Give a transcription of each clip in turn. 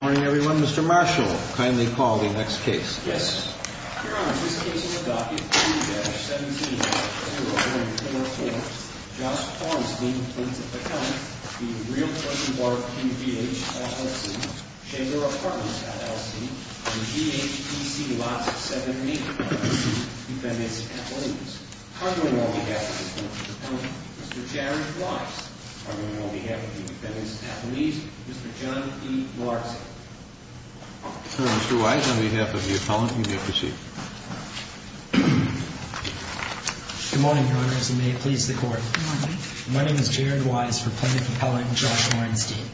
Good morning, everyone. Mr. Marshall, kindly call the next case. Yes. Your Honor, this case is a docket 2-17-0144. Josh Orenstein, plaintiff at count, v. Real Urban Barbeque V.H., LLC, Chamber Apartments, LLC, and G.H.T.C. Lots of 70, defendants and athletes. Cardinal on behalf of the plaintiff's opponent, Mr. Jared Weiss. Cardinal on behalf of the defendant's athlete, Mr. John E. Larson. Sir, Mr. Weiss, on behalf of the appellant, you may proceed. Good morning, Your Honors, and may it please the Court. Good morning. My name is Jared Weiss for plaintiff appellant Josh Orenstein.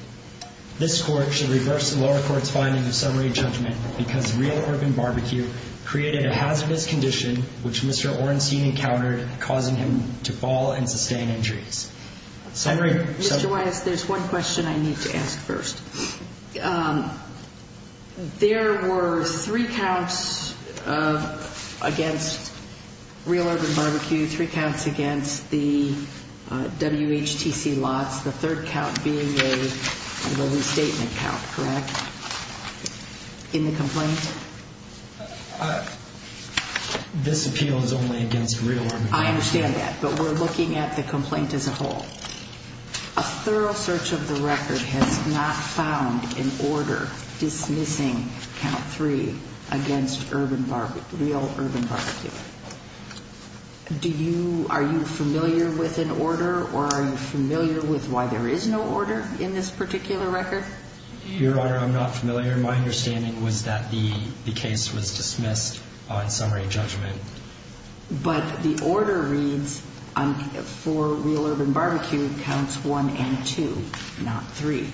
This Court should reverse the lower court's finding of summary judgment because Real Urban Barbeque created a hazardous condition, which Mr. Orenstein encountered, causing him to fall and sustain injuries. Summary? Mr. Weiss, there's one question I need to ask first. There were three counts against Real Urban Barbeque, three counts against the W.H.T.C. Lots, the third count being a restatement count, correct, in the complaint? This appeal is only against Real Urban Barbeque. I understand that, but we're looking at the complaint as a whole. A thorough search of the record has not found an order dismissing count three against Real Urban Barbeque. Are you familiar with an order, or are you familiar with why there is no order in this particular record? Your Honor, I'm not familiar. My understanding was that the case was dismissed on summary judgment. But the order reads for Real Urban Barbeque counts one and two, not three.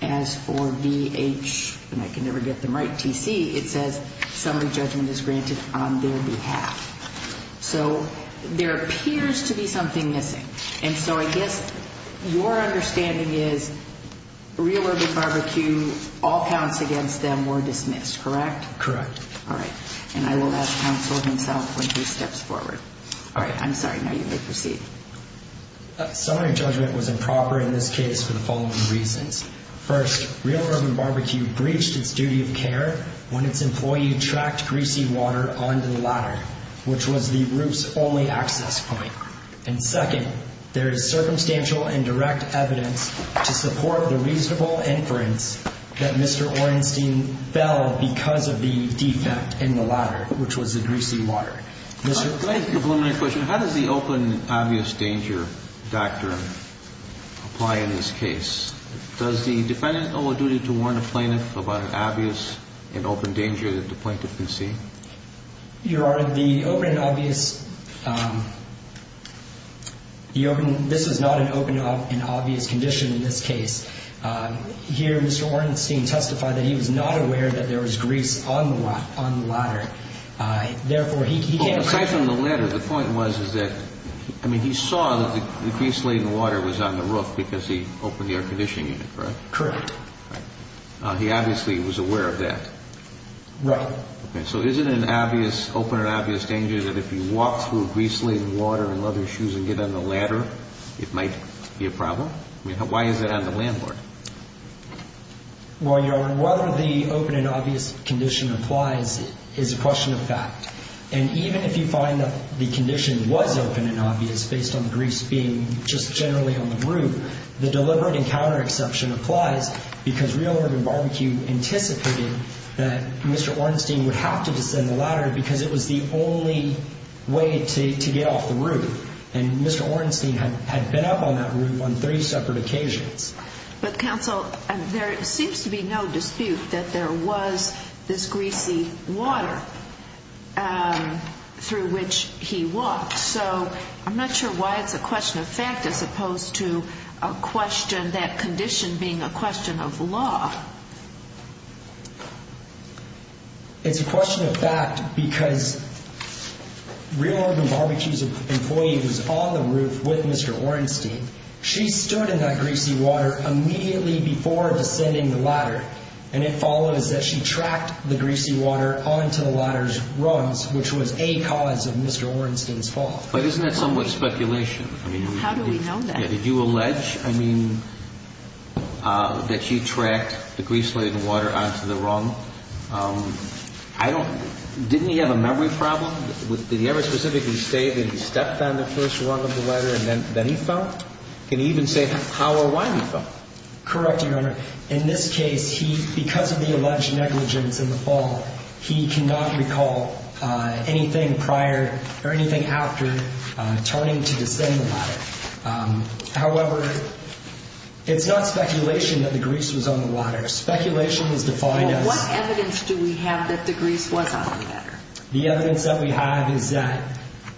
As for V.H. and I can never get them right, T.C., it says summary judgment is granted on their behalf. So there appears to be something missing. And so I guess your understanding is Real Urban Barbeque, all counts against them were dismissed, correct? Correct. All right. And I will ask counsel himself when he steps forward. All right. I'm sorry. Now you may proceed. Summary judgment was improper in this case for the following reasons. First, Real Urban Barbeque breached its duty of care when its employee tracked greasy water onto the ladder, which was the roof's only access point. And second, there is circumstantial and direct evidence to support the reasonable inference that Mr. Ornstein fell because of the defect in the ladder, which was the greasy water. Mr. Clayton. I have a preliminary question. How does the open and obvious danger doctrine apply in this case? Does the defendant owe a duty to warn a plaintiff about an obvious and open danger that the plaintiff can see? Your Honor, the open and obvious, this is not an open and obvious condition in this case. Here, Mr. Ornstein testified that he was not aware that there was grease on the ladder. Therefore, he came back. Aside from the ladder, the point was is that, I mean, he saw that the grease-laden water was on the roof because he opened the air conditioning unit, correct? Correct. He obviously was aware of that. Right. Okay. So is it an obvious, open and obvious danger that if you walk through grease-laden water and leather shoes and get on the ladder, it might be a problem? I mean, why is it on the landlord? Well, Your Honor, whether the open and obvious condition applies is a question of fact. And even if you find that the condition was open and obvious, based on the grease being just generally on the roof, the deliberate encounter exception applies because Real Urban Barbecue anticipated that Mr. Ornstein would have to descend the ladder because it was the only way to get off the roof. And Mr. Ornstein had been up on that roof on three separate occasions. But, counsel, there seems to be no dispute that there was this greasy water through which he walked. So I'm not sure why it's a question of fact as opposed to a question, and that condition being a question of law. It's a question of fact because Real Urban Barbecue's employee who's on the roof with Mr. Ornstein, she stood in that greasy water immediately before descending the ladder, and it follows that she tracked the greasy water onto the ladder's rungs, which was a cause of Mr. Ornstein's fall. But isn't that somewhat speculation? How do we know that? Did you allege, I mean, that she tracked the greasy water onto the rung? I don't know. Didn't he have a memory problem? Did he ever specifically say that he stepped on the first rung of the ladder and then he fell? Can you even say how or why he fell? Correct, Your Honor. In this case, because of the alleged negligence in the fall, he cannot recall anything prior or anything after turning to descend the ladder. However, it's not speculation that the grease was on the ladder. Speculation is defined as— Well, what evidence do we have that the grease was on the ladder? The evidence that we have is that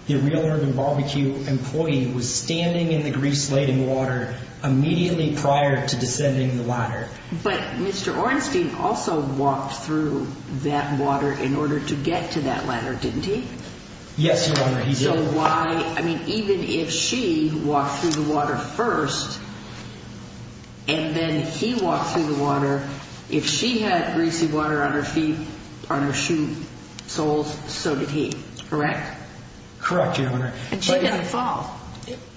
the Real Urban Barbecue employee was standing in the grease-laden water immediately prior to descending the ladder. But Mr. Ornstein also walked through that water in order to get to that ladder, didn't he? Yes, Your Honor, he did. Even if she walked through the water first and then he walked through the water, if she had greasy water on her feet, on her shoe soles, so did he, correct? Correct, Your Honor. And she didn't fall.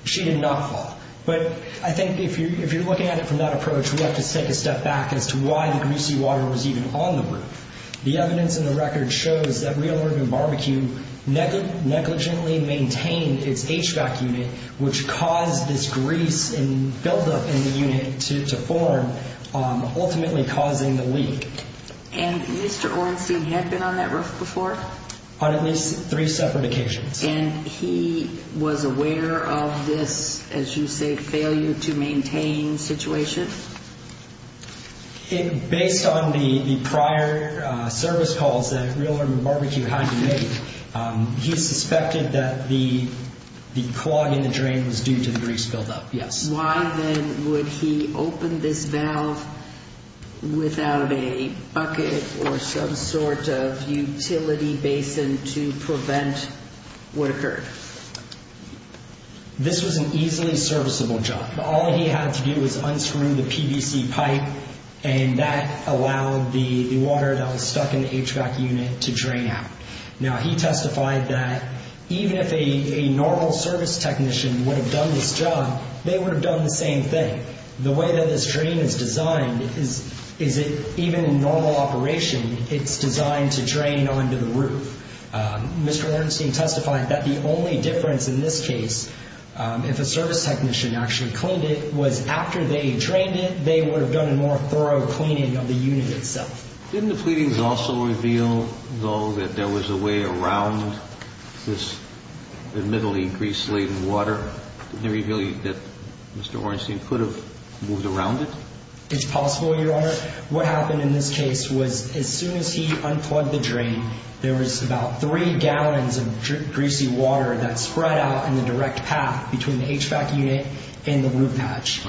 She did not fall. But I think if you're looking at it from that approach, we have to take a step back as to why the greasy water was even on the roof. The evidence in the record shows that Real Urban Barbecue negligently maintained its HVAC unit, which caused this grease and buildup in the unit to form, ultimately causing the leak. And Mr. Ornstein had been on that roof before? On at least three separate occasions. And he was aware of this, as you say, failure to maintain situation? Based on the prior service calls that Real Urban Barbecue had to make, he suspected that the clog in the drain was due to the grease buildup, yes. Why then would he open this valve without a bucket or some sort of utility basin to prevent what occurred? This was an easily serviceable job. All he had to do was unscrew the PVC pipe, and that allowed the water that was stuck in the HVAC unit to drain out. Now, he testified that even if a normal service technician would have done this job, they would have done the same thing. The way that this drain is designed is that even in normal operation, it's designed to drain onto the roof. Mr. Ornstein testified that the only difference in this case, if a service technician actually cleaned it, was after they drained it, they would have done a more thorough cleaning of the unit itself. Didn't the pleadings also reveal, though, that there was a way around this admittedly grease-laden water? Didn't they reveal that Mr. Ornstein could have moved around it? It's possible, Your Honor. What happened in this case was as soon as he unplugged the drain, there was about three gallons of greasy water that spread out in the direct path between the HVAC unit and the roof patch.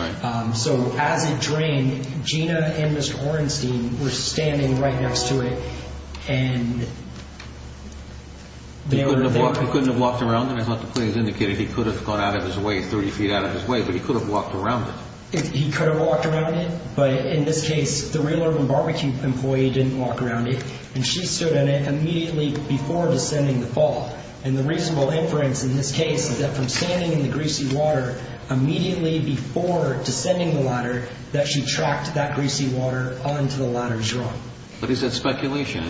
So as it drained, Gina and Mr. Ornstein were standing right next to it. He couldn't have walked around it? I thought the pleadings indicated he could have gone out of his way, 30 feet out of his way, but he could have walked around it. But in this case, the railroad and barbecue employee didn't walk around it. And she stood on it immediately before descending the fall. And the reasonable inference in this case is that from standing in the greasy water immediately before descending the ladder, that she tracked that greasy water onto the ladder's rung. But is that speculation?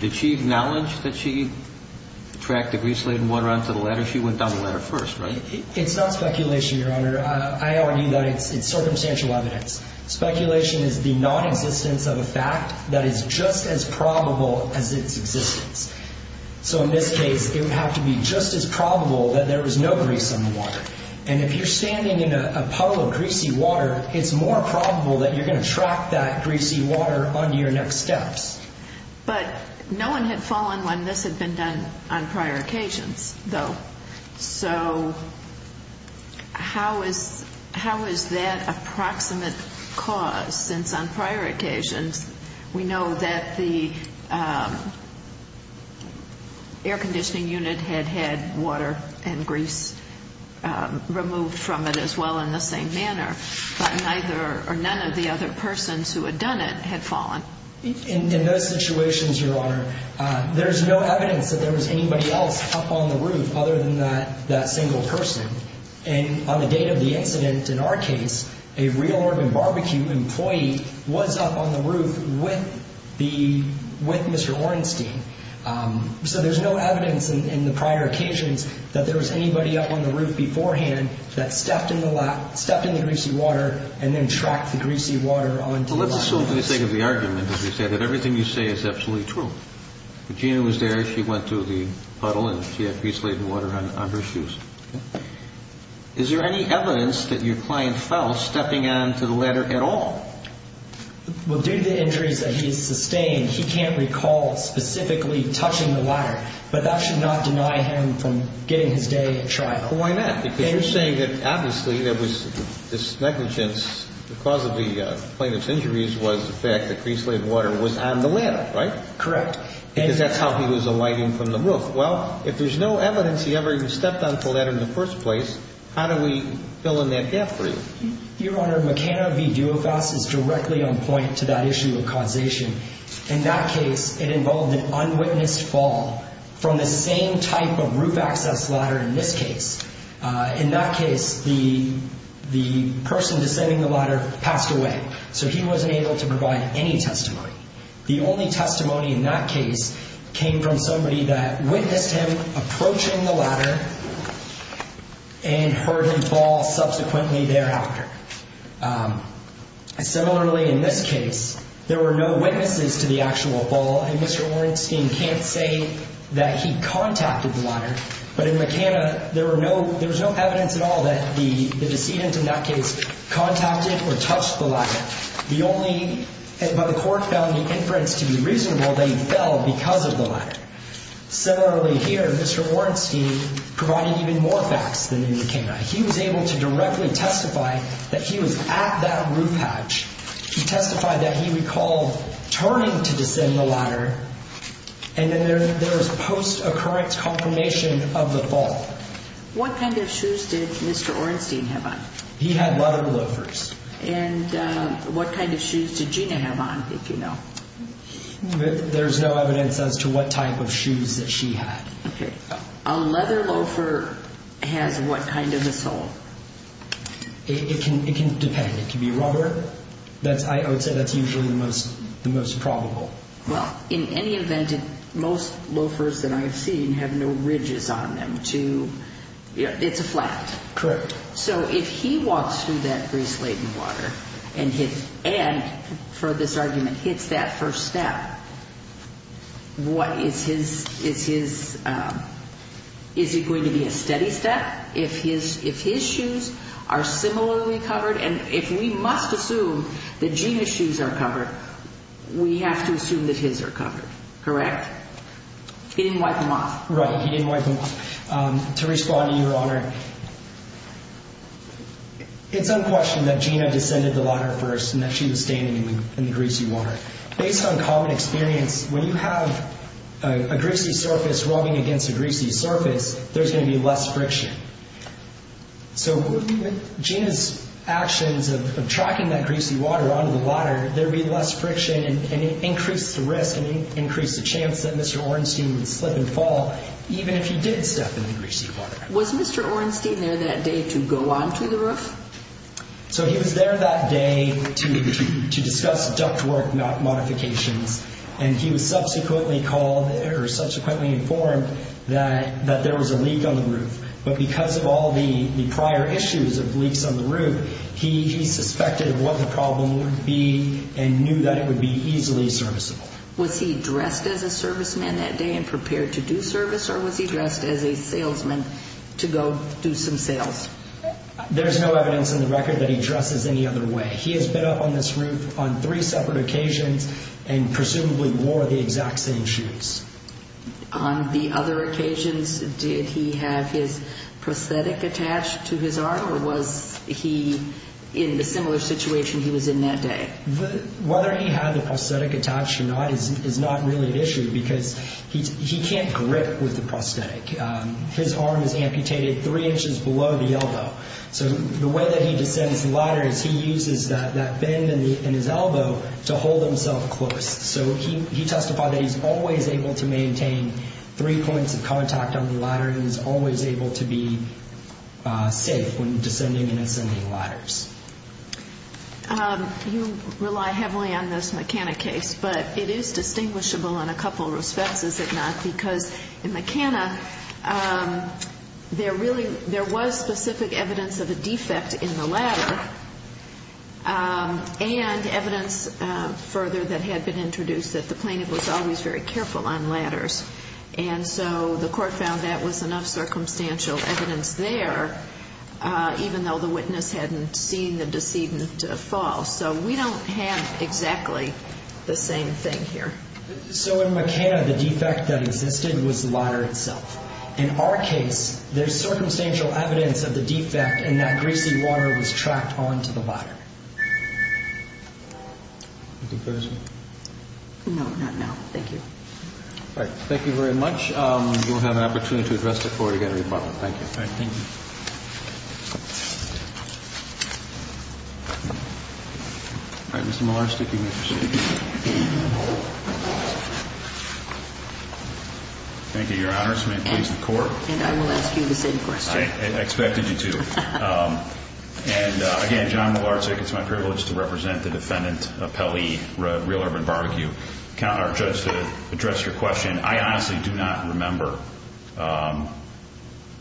Did she acknowledge that she tracked the grease-laden water onto the ladder? She went down the ladder first, right? It's not speculation, Your Honor. I argue that it's circumstantial evidence. Speculation is the non-existence of a fact that is just as probable as its existence. So in this case, it would have to be just as probable that there was no grease on the water. And if you're standing in a puddle of greasy water, it's more probable that you're going to track that greasy water onto your next steps. But no one had fallen when this had been done on prior occasions, though. So how is that approximate cause, since on prior occasions, we know that the air conditioning unit had had water and grease removed from it as well in the same manner, but neither or none of the other persons who had done it had fallen? In those situations, Your Honor, there's no evidence that there was anybody else up on the roof other than that single person. And on the date of the incident, in our case, a Real Urban Barbecue employee was up on the roof with Mr. Orenstein. So there's no evidence in the prior occasions that there was anybody up on the roof beforehand that stepped in the greasy water and then tracked the greasy water onto the ladder. Well, let's assume for the sake of the argument, as we said, that everything you say is absolutely true. Regina was there. She went through the puddle, and she had grease-laden water on her shoes. Is there any evidence that your client fell stepping on to the ladder at all? Well, due to the injuries that he sustained, he can't recall specifically touching the ladder, but that should not deny him from getting his day at trial. Why not? Because you're saying that obviously there was this negligence. The cause of the plaintiff's injuries was the fact that grease-laden water was on the ladder, right? Correct. Because that's how he was alighting from the roof. Well, if there's no evidence he ever even stepped on to the ladder in the first place, how do we fill in that gap for you? Your Honor, McKenna v. Duofas is directly on point to that issue of causation. In that case, it involved an unwitnessed fall from the same type of roof access ladder in this case. In that case, the person descending the ladder passed away, so he wasn't able to provide any testimony. The only testimony in that case came from somebody that witnessed him approaching the ladder and heard him fall subsequently thereafter. Similarly, in this case, there were no witnesses to the actual fall, and Mr. Orenstein can't say that he contacted the ladder. But in McKenna, there was no evidence at all that the decedent in that case contacted or touched the ladder. The only—but the court found the inference to be reasonable that he fell because of the ladder. Similarly here, Mr. Orenstein provided even more facts than in McKenna. He was able to directly testify that he was at that roof hatch. He testified that he recalled turning to descend the ladder, and then there was post-occurrence confirmation of the fall. What kind of shoes did Mr. Orenstein have on? He had leather loafers. And what kind of shoes did Gina have on, if you know? There's no evidence as to what type of shoes that she had. Okay. A leather loafer has what kind of a sole? It can depend. It can be rubber. I would say that's usually the most probable. Well, in any event, most loafers that I've seen have no ridges on them to—it's a flat. Correct. So if he walks through that grease-laden water and, for this argument, hits that first step, what is his—is it going to be a steady step? If his shoes are similarly covered, and if we must assume that Gina's shoes are covered, we have to assume that his are covered, correct? He didn't wipe them off. Right. He didn't wipe them off. To respond to Your Honor, it's unquestioned that Gina descended the ladder first and that she was standing in the greasy water. Based on common experience, when you have a greasy surface rubbing against a greasy surface, there's going to be less friction. So with Gina's actions of tracking that greasy water onto the ladder, there'd be less friction, and it increased the risk, and it increased the chance that Mr. Ornstein would slip and fall, even if he did step in the greasy water. Was Mr. Ornstein there that day to go onto the roof? So he was there that day to discuss ductwork modifications, and he was subsequently called or subsequently informed that there was a leak on the roof. But because of all the prior issues of leaks on the roof, he suspected what the problem would be and knew that it would be easily serviceable. Was he dressed as a serviceman that day and prepared to do service, or was he dressed as a salesman to go do some sales? There's no evidence in the record that he dresses any other way. He has been up on this roof on three separate occasions and presumably wore the exact same shoes. On the other occasions, did he have his prosthetic attached to his arm, or was he in a similar situation he was in that day? Whether he had the prosthetic attached or not is not really an issue, because he can't grip with the prosthetic. So the way that he descends the ladder is he uses that bend in his elbow to hold himself close. So he testified that he's always able to maintain three points of contact on the ladder and is always able to be safe when descending and ascending ladders. You rely heavily on this McKenna case, but it is distinguishable in a couple respects, is it not? Because in McKenna, there was specific evidence of a defect in the ladder and evidence further that had been introduced that the plaintiff was always very careful on ladders. And so the court found that was enough circumstantial evidence there, even though the witness hadn't seen the decedent fall. So we don't have exactly the same thing here. So in McKenna, the defect that existed was the ladder itself. In our case, there's circumstantial evidence of the defect and that greasy water was tracked on to the ladder. Anything further? No, not now. Thank you. All right. Thank you very much. We'll have an opportunity to address the court again in rebuttal. Thank you. All right. Thank you. All right. Mr. Malarczyk, you may proceed. Thank you, Your Honor. This may please the court. And I will ask you the same question. I expected you to. And again, John Malarczyk, it's my privilege to represent the defendant, Pelle, Real Urban Barbecue. I count on our judge to address your question. And I honestly do not remember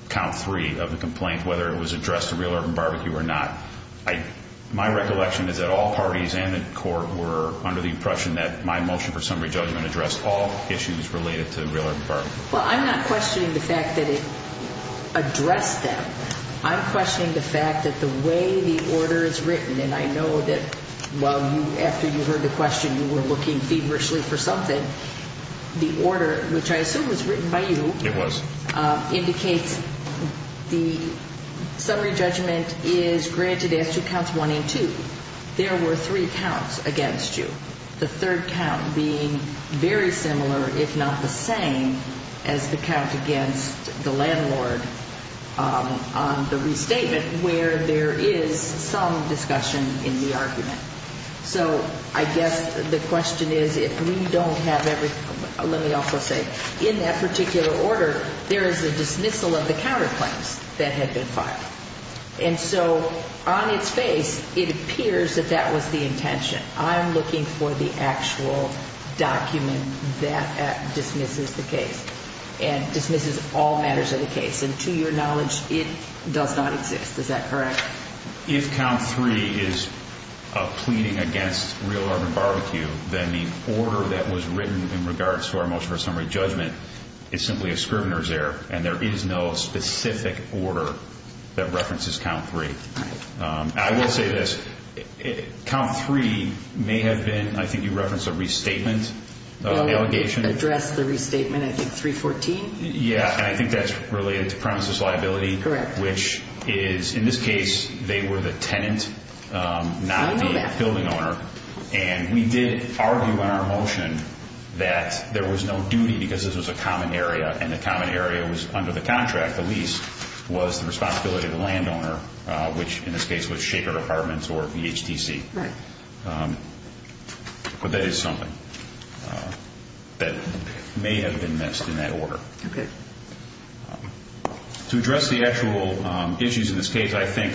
count three of the complaint, whether it was addressed to Real Urban Barbecue or not. My recollection is that all parties and the court were under the impression that my motion for summary judgment addressed all issues related to Real Urban Barbecue. Well, I'm not questioning the fact that it addressed them. I'm questioning the fact that the way the order is written, and I know that after you heard the question, you were looking feverishly for something. The order, which I assume was written by you. It was. Indicates the summary judgment is granted as to counts one and two. There were three counts against you, the third count being very similar, if not the same, as the count against the landlord on the restatement where there is some discussion in the argument. So I guess the question is if we don't have everything. Let me also say in that particular order, there is a dismissal of the counterclaims that had been filed. And so on its face, it appears that that was the intention. I'm looking for the actual document that dismisses the case and dismisses all matters of the case. And to your knowledge, it does not exist. Is that correct? If count three is a pleading against Real Urban Barbecue, then the order that was written in regards to our motion for summary judgment is simply a scrivener's error. And there is no specific order that references count three. I will say this. Count three may have been, I think you referenced a restatement allegation. Address the restatement, I think, 314. Yeah. And I think that's related to premises liability. Correct. Which is, in this case, they were the tenant, not the building owner. And we did argue in our motion that there was no duty because this was a common area. And the common area was under the contract. The lease was the responsibility of the landowner, which in this case was Shaker Apartments or VHTC. Right. But that is something that may have been missed in that order. Okay. To address the actual issues in this case, I think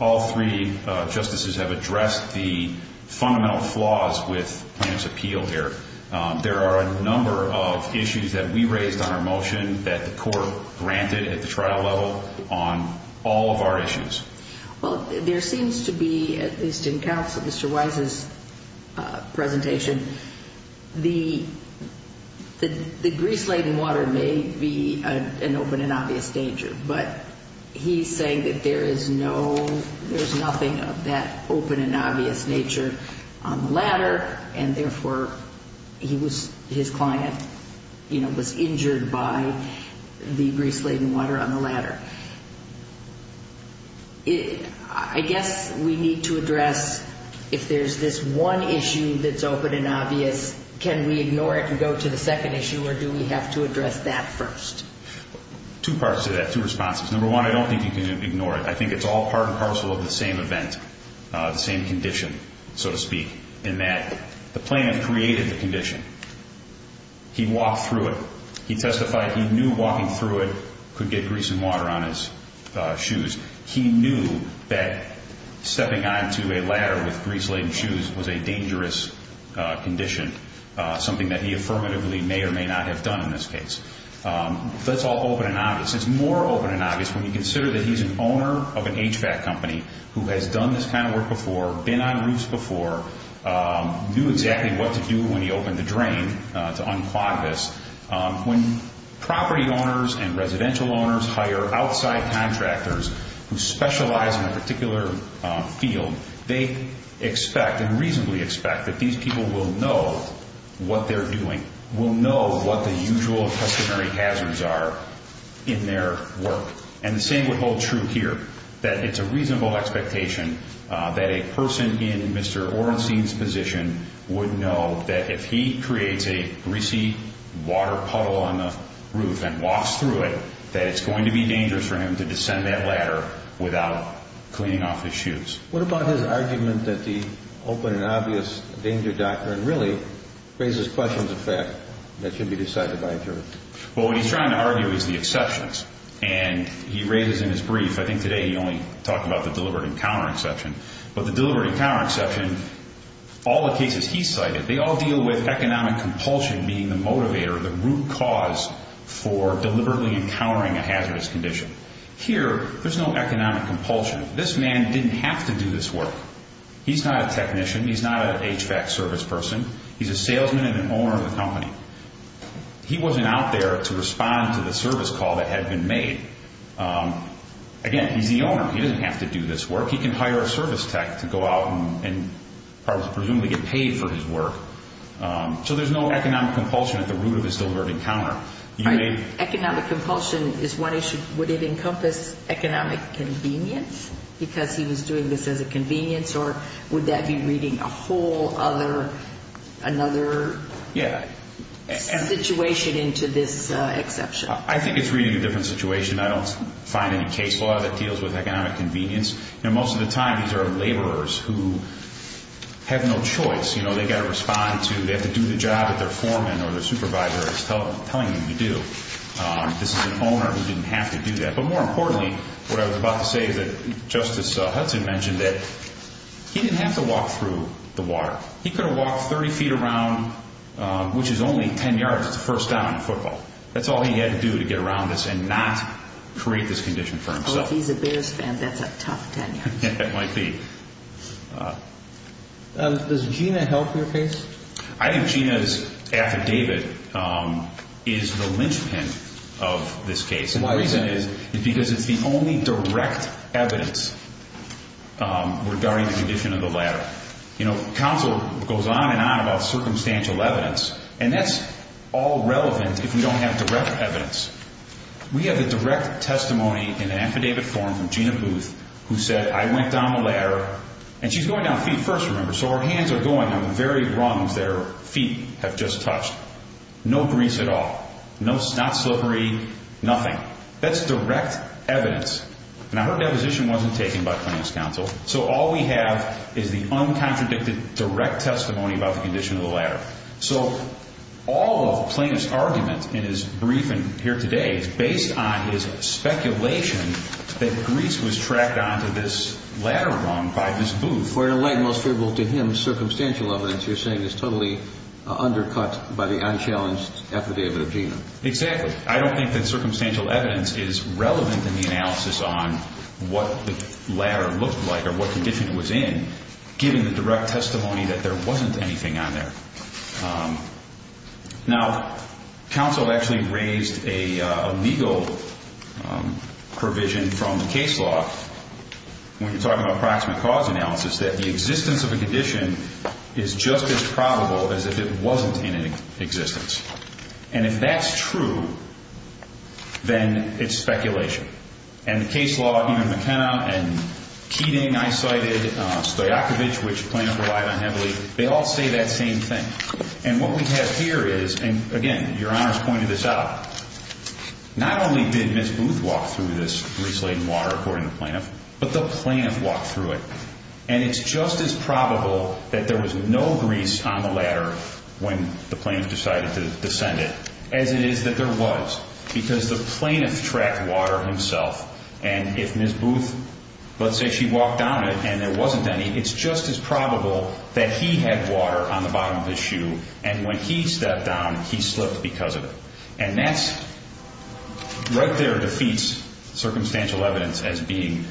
all three justices have addressed the fundamental flaws with Plaintiff's Appeal here. There are a number of issues that we raised on our motion that the court granted at the trial level on all of our issues. Well, there seems to be, at least in counsel, Mr. Wise's presentation, the grease-laden water may be an open and obvious danger, but he's saying that there is no, there's nothing of that open and obvious nature on the ladder, and therefore he was, his client, you know, was injured by the grease-laden water on the ladder. I guess we need to address if there's this one issue that's open and obvious, can we ignore it and go to the second issue, or do we have to address that first? Two parts to that, two responses. Number one, I don't think you can ignore it. I think it's all part and parcel of the same event, the same condition, so to speak, in that the plaintiff created the condition. He walked through it. He testified he knew walking through it could get grease and water on his shoes. He knew that stepping onto a ladder with grease-laden shoes was a dangerous condition, something that he affirmatively may or may not have done in this case. That's all open and obvious. It's more open and obvious when you consider that he's an owner of an HVAC company who has done this kind of work before, been on roofs before, knew exactly what to do when he opened the drain to unclog this, when property owners and residential owners hire outside contractors who specialize in a particular field, they expect and reasonably expect that these people will know what they're doing, will know what the usual customary hazards are in their work. And the same would hold true here, that it's a reasonable expectation that a person in Mr. Orenstein's position would know that if he creates a greasy water puddle on the roof and walks through it, that it's going to be dangerous for him to descend that ladder without cleaning off his shoes. What about his argument that the open and obvious danger doctrine really raises questions of fact that should be decided by a jury? Well, what he's trying to argue is the exceptions, and he raises in his brief, I think today he only talked about the deliberate encounter exception, but the deliberate encounter exception, all the cases he cited, they all deal with economic compulsion being the motivator, the root cause for deliberately encountering a hazardous condition. Here, there's no economic compulsion. This man didn't have to do this work. He's not a technician. He's not an HVAC service person. He's a salesman and an owner of the company. He wasn't out there to respond to the service call that had been made. Again, he's the owner. He doesn't have to do this work. He can hire a service tech to go out and presumably get paid for his work. So there's no economic compulsion at the root of his deliberate encounter. Economic compulsion is one issue. Would it encompass economic convenience because he was doing this as a convenience, or would that be reading a whole other situation into this exception? I think it's reading a different situation. I don't find any case law that deals with economic convenience. Most of the time, these are laborers who have no choice. They've got to respond to, they have to do the job that their foreman or their supervisor is telling them to do. This is an owner who didn't have to do that. But more importantly, what I was about to say is that Justice Hudson mentioned that he didn't have to walk through the water. He could have walked 30 feet around, which is only 10 yards. It's the first down in football. That's all he had to do to get around this and not create this condition for himself. If he's a Bears fan, that's a tough 10 yards. It might be. Does Gina help your case? I think Gina's affidavit is the linchpin of this case. The reason is because it's the only direct evidence regarding the condition of the ladder. Counsel goes on and on about circumstantial evidence, and that's all relevant if you don't have direct evidence. We have the direct testimony in an affidavit form from Gina Booth who said, I went down the ladder, and she's going down feet first, remember, so her hands are going on the very rungs that her feet have just touched. No grease at all. Not slippery, nothing. That's direct evidence. Now, her deposition wasn't taken by plaintiff's counsel, so all we have is the uncontradicted direct testimony about the condition of the ladder. So all of the plaintiff's argument in his briefing here today is based on his speculation that grease was tracked onto this ladder rung by Ms. Booth. For your light and most favorable to him circumstantial evidence, you're saying it's totally undercut by the unchallenged affidavit of Gina. Exactly. I don't think that circumstantial evidence is relevant in the analysis on what the ladder looked like or what condition it was in, given the direct testimony that there wasn't anything on there. Now, counsel actually raised a legal provision from the case law when you're talking about approximate cause analysis that the existence of a condition is just as probable as if it wasn't in existence. And if that's true, then it's speculation. And the case law, even McKenna and Keating, I cited, Stoyakovich, which plaintiff relied on heavily, they all say that same thing. And what we have here is, and again, Your Honor's pointed this out, not only did Ms. Booth walk through this grease-laden water, according to the plaintiff, but the plaintiff walked through it. And it's just as probable that there was no grease on the ladder when the plaintiff decided to descend it as it is that there was, because the plaintiff tracked water himself. And if Ms. Booth, let's say she walked down it and there wasn't any, it's just as probable that he had water on the bottom of his shoe, and when he stepped down, he slipped because of it. And that right there defeats circumstantial evidence as being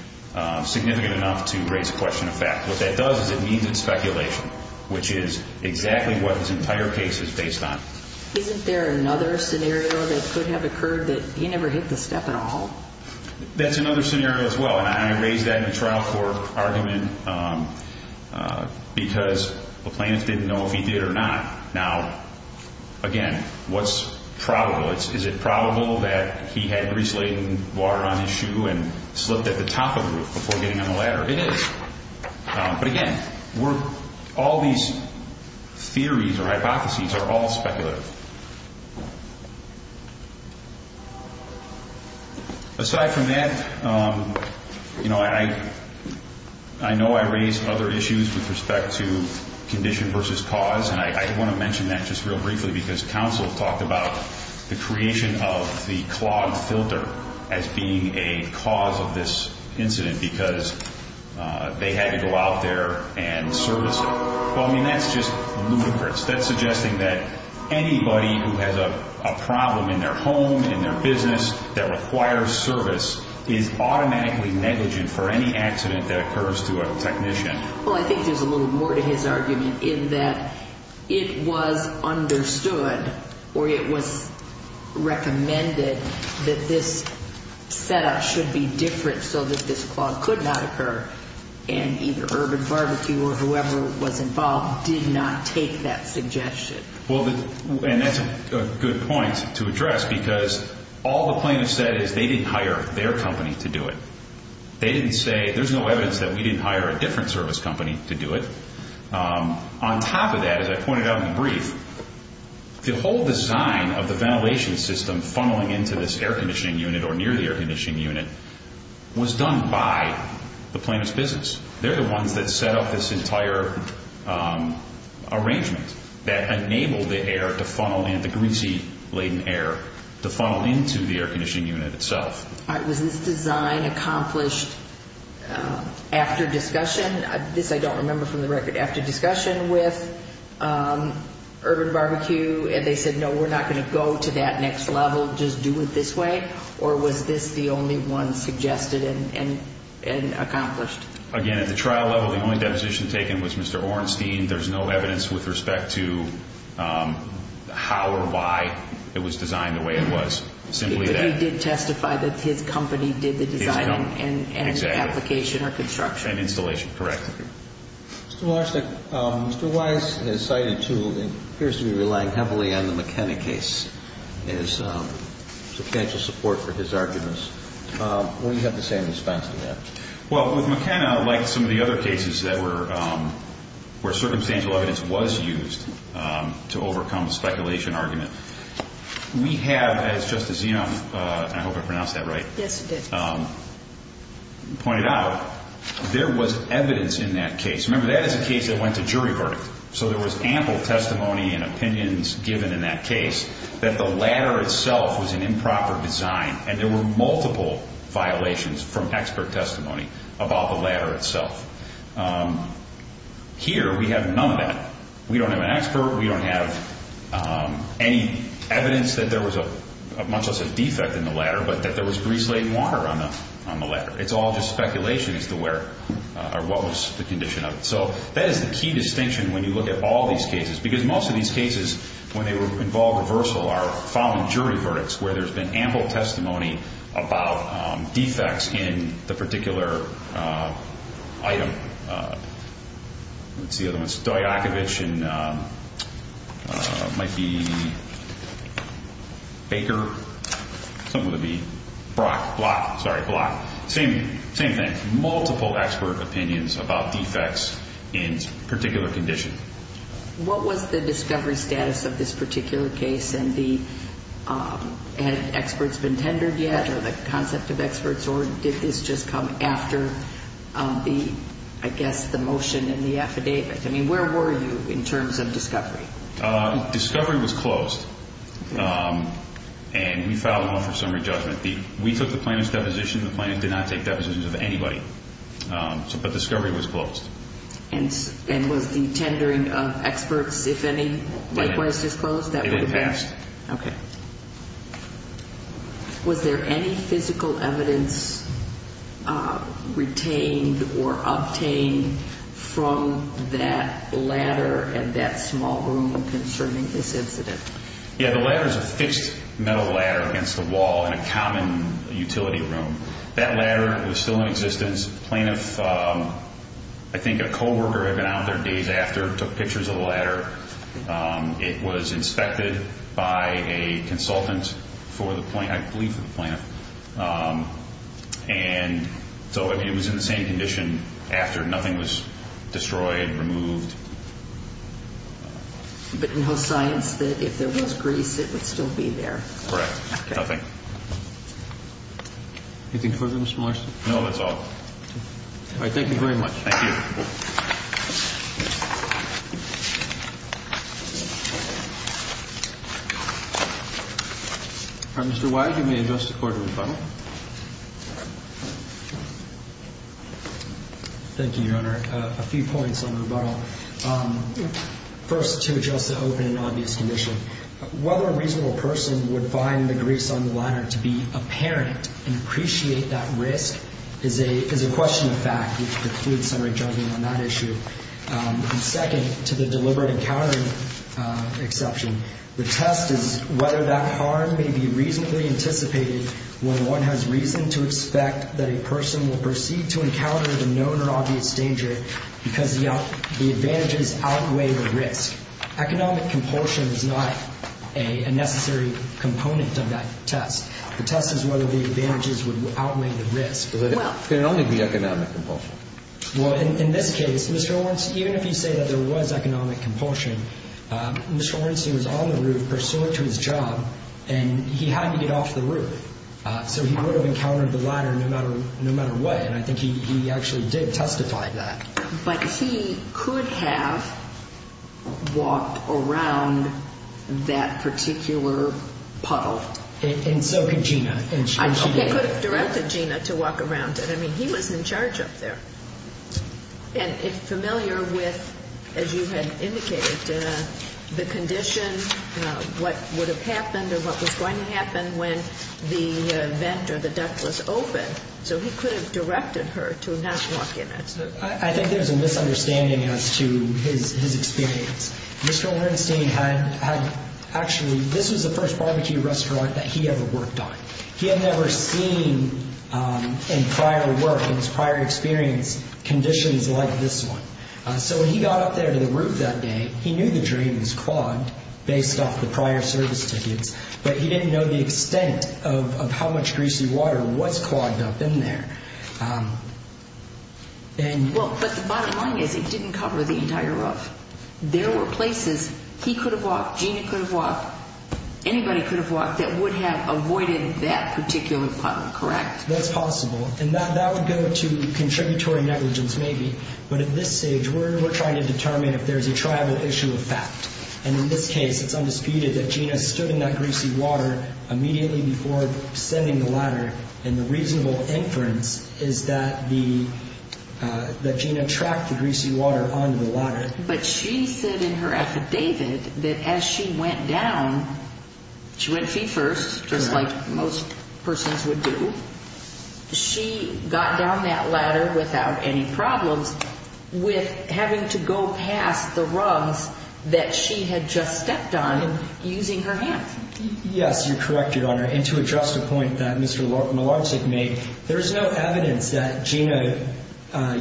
significant enough to raise a question of fact. What that does is it means it's speculation, which is exactly what this entire case is based on. Isn't there another scenario that could have occurred that he never hit the step at all? That's another scenario as well, and I raised that in the trial court argument because the plaintiff didn't know if he did or not. Now, again, what's probable? Is it probable that he had grease-laden water on his shoe and slipped at the top of the roof before getting on the ladder? It is. But again, all these theories or hypotheses are all speculative. Aside from that, I know I raised other issues with respect to condition versus cause, and I want to mention that just real briefly because counsel talked about the creation of the clogged filter as being a cause of this incident because they had to go out there and service it. Well, I mean, that's just ludicrous. That's suggesting that anybody who has a problem in their home, in their business, that requires service is automatically negligent for any accident that occurs to a technician. Well, I think there's a little more to his argument in that it was understood or it was recommended that this setup should be different so that this clog could not occur, and either Urban Barbecue or whoever was involved did not take that suggestion. And that's a good point to address because all the plaintiffs said is they didn't hire their company to do it. They didn't say there's no evidence that we didn't hire a different service company to do it. On top of that, as I pointed out in the brief, the whole design of the ventilation system funneling into this air conditioning unit or near the air conditioning unit was done by the plaintiff's business. They're the ones that set up this entire arrangement that enabled the air to funnel and the greasy, laden air to funnel into the air conditioning unit itself. Was this design accomplished after discussion? This I don't remember from the record. After discussion with Urban Barbecue and they said, no, we're not going to go to that next level, just do it this way, or was this the only one suggested and accomplished? Again, at the trial level, the only deposition taken was Mr. Orenstein. There's no evidence with respect to how or why it was designed the way it was, simply that. He did testify that his company did the design and application or construction. Construction and installation. Correct. Mr. Larson, Mr. Wise has cited two and appears to be relying heavily on the McKenna case as substantial support for his arguments. What do you have to say in response to that? Well, with McKenna, like some of the other cases where circumstantial evidence was used to overcome the speculation argument, we have, as Justice Young, I hope I pronounced that right, Yes, you did. pointed out, there was evidence in that case. Remember, that is a case that went to jury verdict, so there was ample testimony and opinions given in that case that the ladder itself was an improper design and there were multiple violations from expert testimony about the ladder itself. Here, we have none of that. We don't have an expert. We don't have any evidence that there was much less a defect in the ladder but that there was grease-laden water on the ladder. It's all just speculation as to where or what was the condition of it. So that is the key distinction when you look at all these cases because most of these cases, when they involve reversal, are found in jury verdicts where there's been ample testimony about defects in the particular item. What's the other one? Stoyakovich and it might be Baker. Something with a B. Brock. Block. Sorry, Block. Same thing. Multiple expert opinions about defects in a particular condition. What was the discovery status of this particular case and had experts been tendered yet or the concept of experts or did this just come after the, I guess, the motion and the affidavit? I mean, where were you in terms of discovery? Discovery was closed and we filed one for summary judgment. We took the plaintiff's deposition. The plaintiff did not take depositions of anybody. But discovery was closed. And was the tendering of experts, if any, likewise disclosed? It had passed. Okay. Was there any physical evidence retained or obtained from that ladder in that small room concerning this incident? Yeah, the ladder is a fixed metal ladder against the wall in a common utility room. That ladder was still in existence. The plaintiff, I think a co-worker had been out there days after, took pictures of the ladder. It was inspected by a consultant for the plaintiff, I believe for the plaintiff. And so it was in the same condition after. Nothing was destroyed, removed. But no signs that if there was grease, it would still be there. Correct. Nothing. Anything further, Mr. Molarski? No, that's all. All right. Thank you very much. Thank you. Mr. Wise, you may address the Court of rebuttal. Thank you, Your Honor. A few points on rebuttal. First, to address the open and obvious condition. Whether a reasonable person would find the grease on the ladder to be apparent and appreciate that risk is a question of fact, which precludes summary judgment on that issue. Second, to the deliberate encountering exception, the test is whether that harm may be reasonably anticipated when one has reason to expect that a person will proceed to encounter the known or obvious danger because the advantages outweigh the risk. Economic compulsion is not a necessary component of that test. The test is whether the advantages would outweigh the risk. Could it only be economic compulsion? Well, in this case, Mr. Lawrence, even if you say that there was economic compulsion, Mr. Lawrence, he was on the roof, pursuant to his job, and he had to get off the roof. So he would have encountered the ladder no matter what, and I think he actually did testify to that. But he could have walked around that particular puddle. And so could Gina. He could have directed Gina to walk around it. I mean, he was in charge up there. And familiar with, as you had indicated, the condition, what would have happened or what was going to happen when the vent or the duct was open. So he could have directed her to not walk in it. I think there's a misunderstanding as to his experience. Mr. O'Hernstein had actually, this was the first barbecue restaurant that he ever worked on. He had never seen in prior work, in his prior experience, conditions like this one. So when he got up there to the roof that day, he knew the drain was clogged, based off the prior service tickets, but he didn't know the extent of how much greasy water was clogged up in there. But the bottom line is it didn't cover the entire roof. There were places he could have walked, Gina could have walked, anybody could have walked that would have avoided that particular problem, correct? That's possible. And that would go to contributory negligence, maybe. But at this stage, we're trying to determine if there's a triable issue of fact. And in this case, it's undisputed that Gina stood in that greasy water immediately before descending the ladder. And the reasonable inference is that Gina tracked the greasy water onto the ladder. But she said in her affidavit that as she went down, she went feet first, just like most persons would do, she got down that ladder without any problems, with having to go past the rugs that she had just stepped on using her hands. Yes, you're correct, Your Honor. And to address the point that Mr. Malarczyk made, there's no evidence that Gina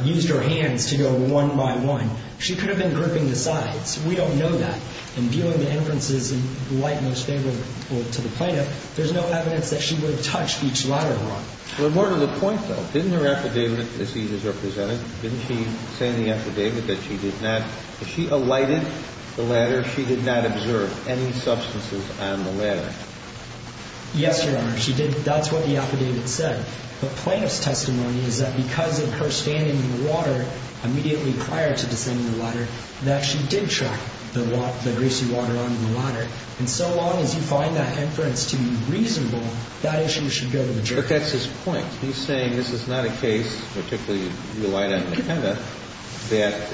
used her hands to go one by one. She could have been gripping the sides. We don't know that. And viewing the inferences in the light most favorable to the plaintiff, there's no evidence that she would have touched each ladder rung. But more to the point, though, didn't her affidavit, as he has represented, didn't she say in the affidavit that she did not, that she alighted the ladder, she did not observe any substances on the ladder? Yes, Your Honor, she did. That's what the affidavit said. But plaintiff's testimony is that because of her standing in the water immediately prior to descending the ladder, that she did track the greasy water on the ladder. And so long as you find that inference to be reasonable, that issue should go to the jury. But that's his point. He's saying this is not a case, particularly you alighted on the ladder, that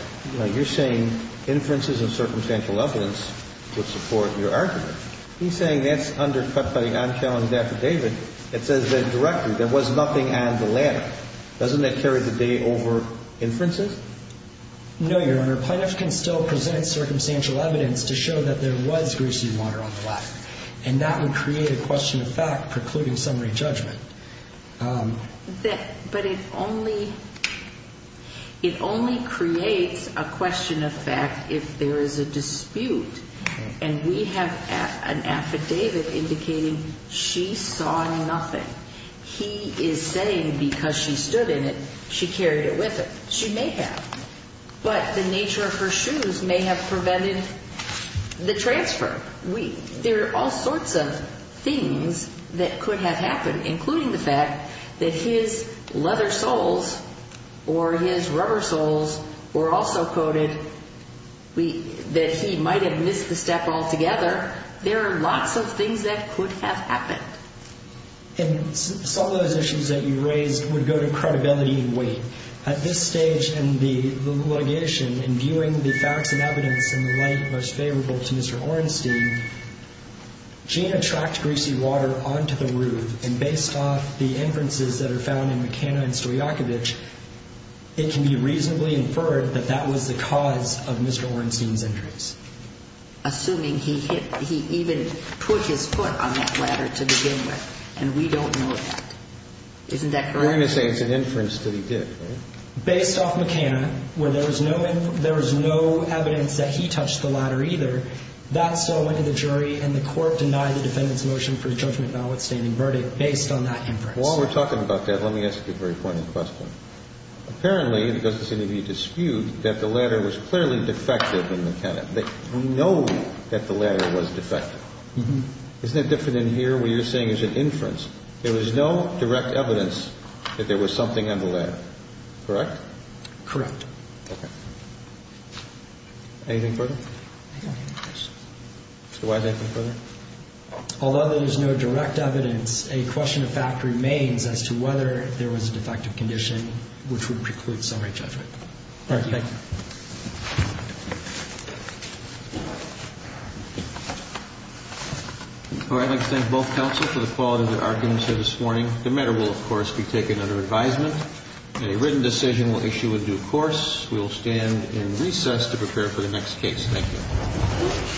you're saying inferences and circumstantial evidence would support your argument. He's saying that's undercut by the on-challenge affidavit that says the director, there was nothing at the ladder. Doesn't that carry the day over inferences? No, Your Honor. Plaintiff can still present circumstantial evidence to show that there was greasy water on the ladder. And that would create a question of fact precluding summary judgment. But it only creates a question of fact if there is a dispute. And we have an affidavit indicating she saw nothing. He is saying because she stood in it, she carried it with her. She may have. But the nature of her shoes may have prevented the transfer. There are all sorts of things that could have happened, including the fact that his leather soles or his rubber soles were also coated, that he might have missed the step altogether. There are lots of things that could have happened. And some of those issues that you raised would go to credibility and weight. At this stage in the litigation, in viewing the facts and evidence in the light most favorable to Mr. Orenstein, Gina tracked greasy water onto the roof. And based off the inferences that are found in McKenna and Stoyakovich, it can be reasonably inferred that that was the cause of Mr. Orenstein's injuries. And so the question is, are you saying that the defense is going to support the defense assuming he hit, he even put his foot on that ladder to begin with? And we don't know that. Isn't that correct? We're going to say it's an inference that he did. Based off McKenna, where there is no evidence that he touched the ladder either, that's still going to the jury and the court denied the defendant's motion for a judgment of an outstanding verdict based on that inference. While we're talking about that, let me ask you a very pointed question. Apparently, and it doesn't seem to be a dispute, that the ladder was clearly defective in McKenna. We know that the ladder was defective. Isn't it different in here where you're saying it's an inference? There was no direct evidence that there was something on the ladder. Correct? Correct. Okay. Anything further? I don't have any questions. Mr. Wise, anything further? Although there is no direct evidence, a question of fact remains as to whether there was a defective condition, which would preclude summary judgment. Thank you. Thank you. All right. I'd like to thank both counsel for the quality of their arguments here this morning. The matter will, of course, be taken under advisement. A written decision will issue a due course. We will stand in recess to prepare for the next case. Thank you.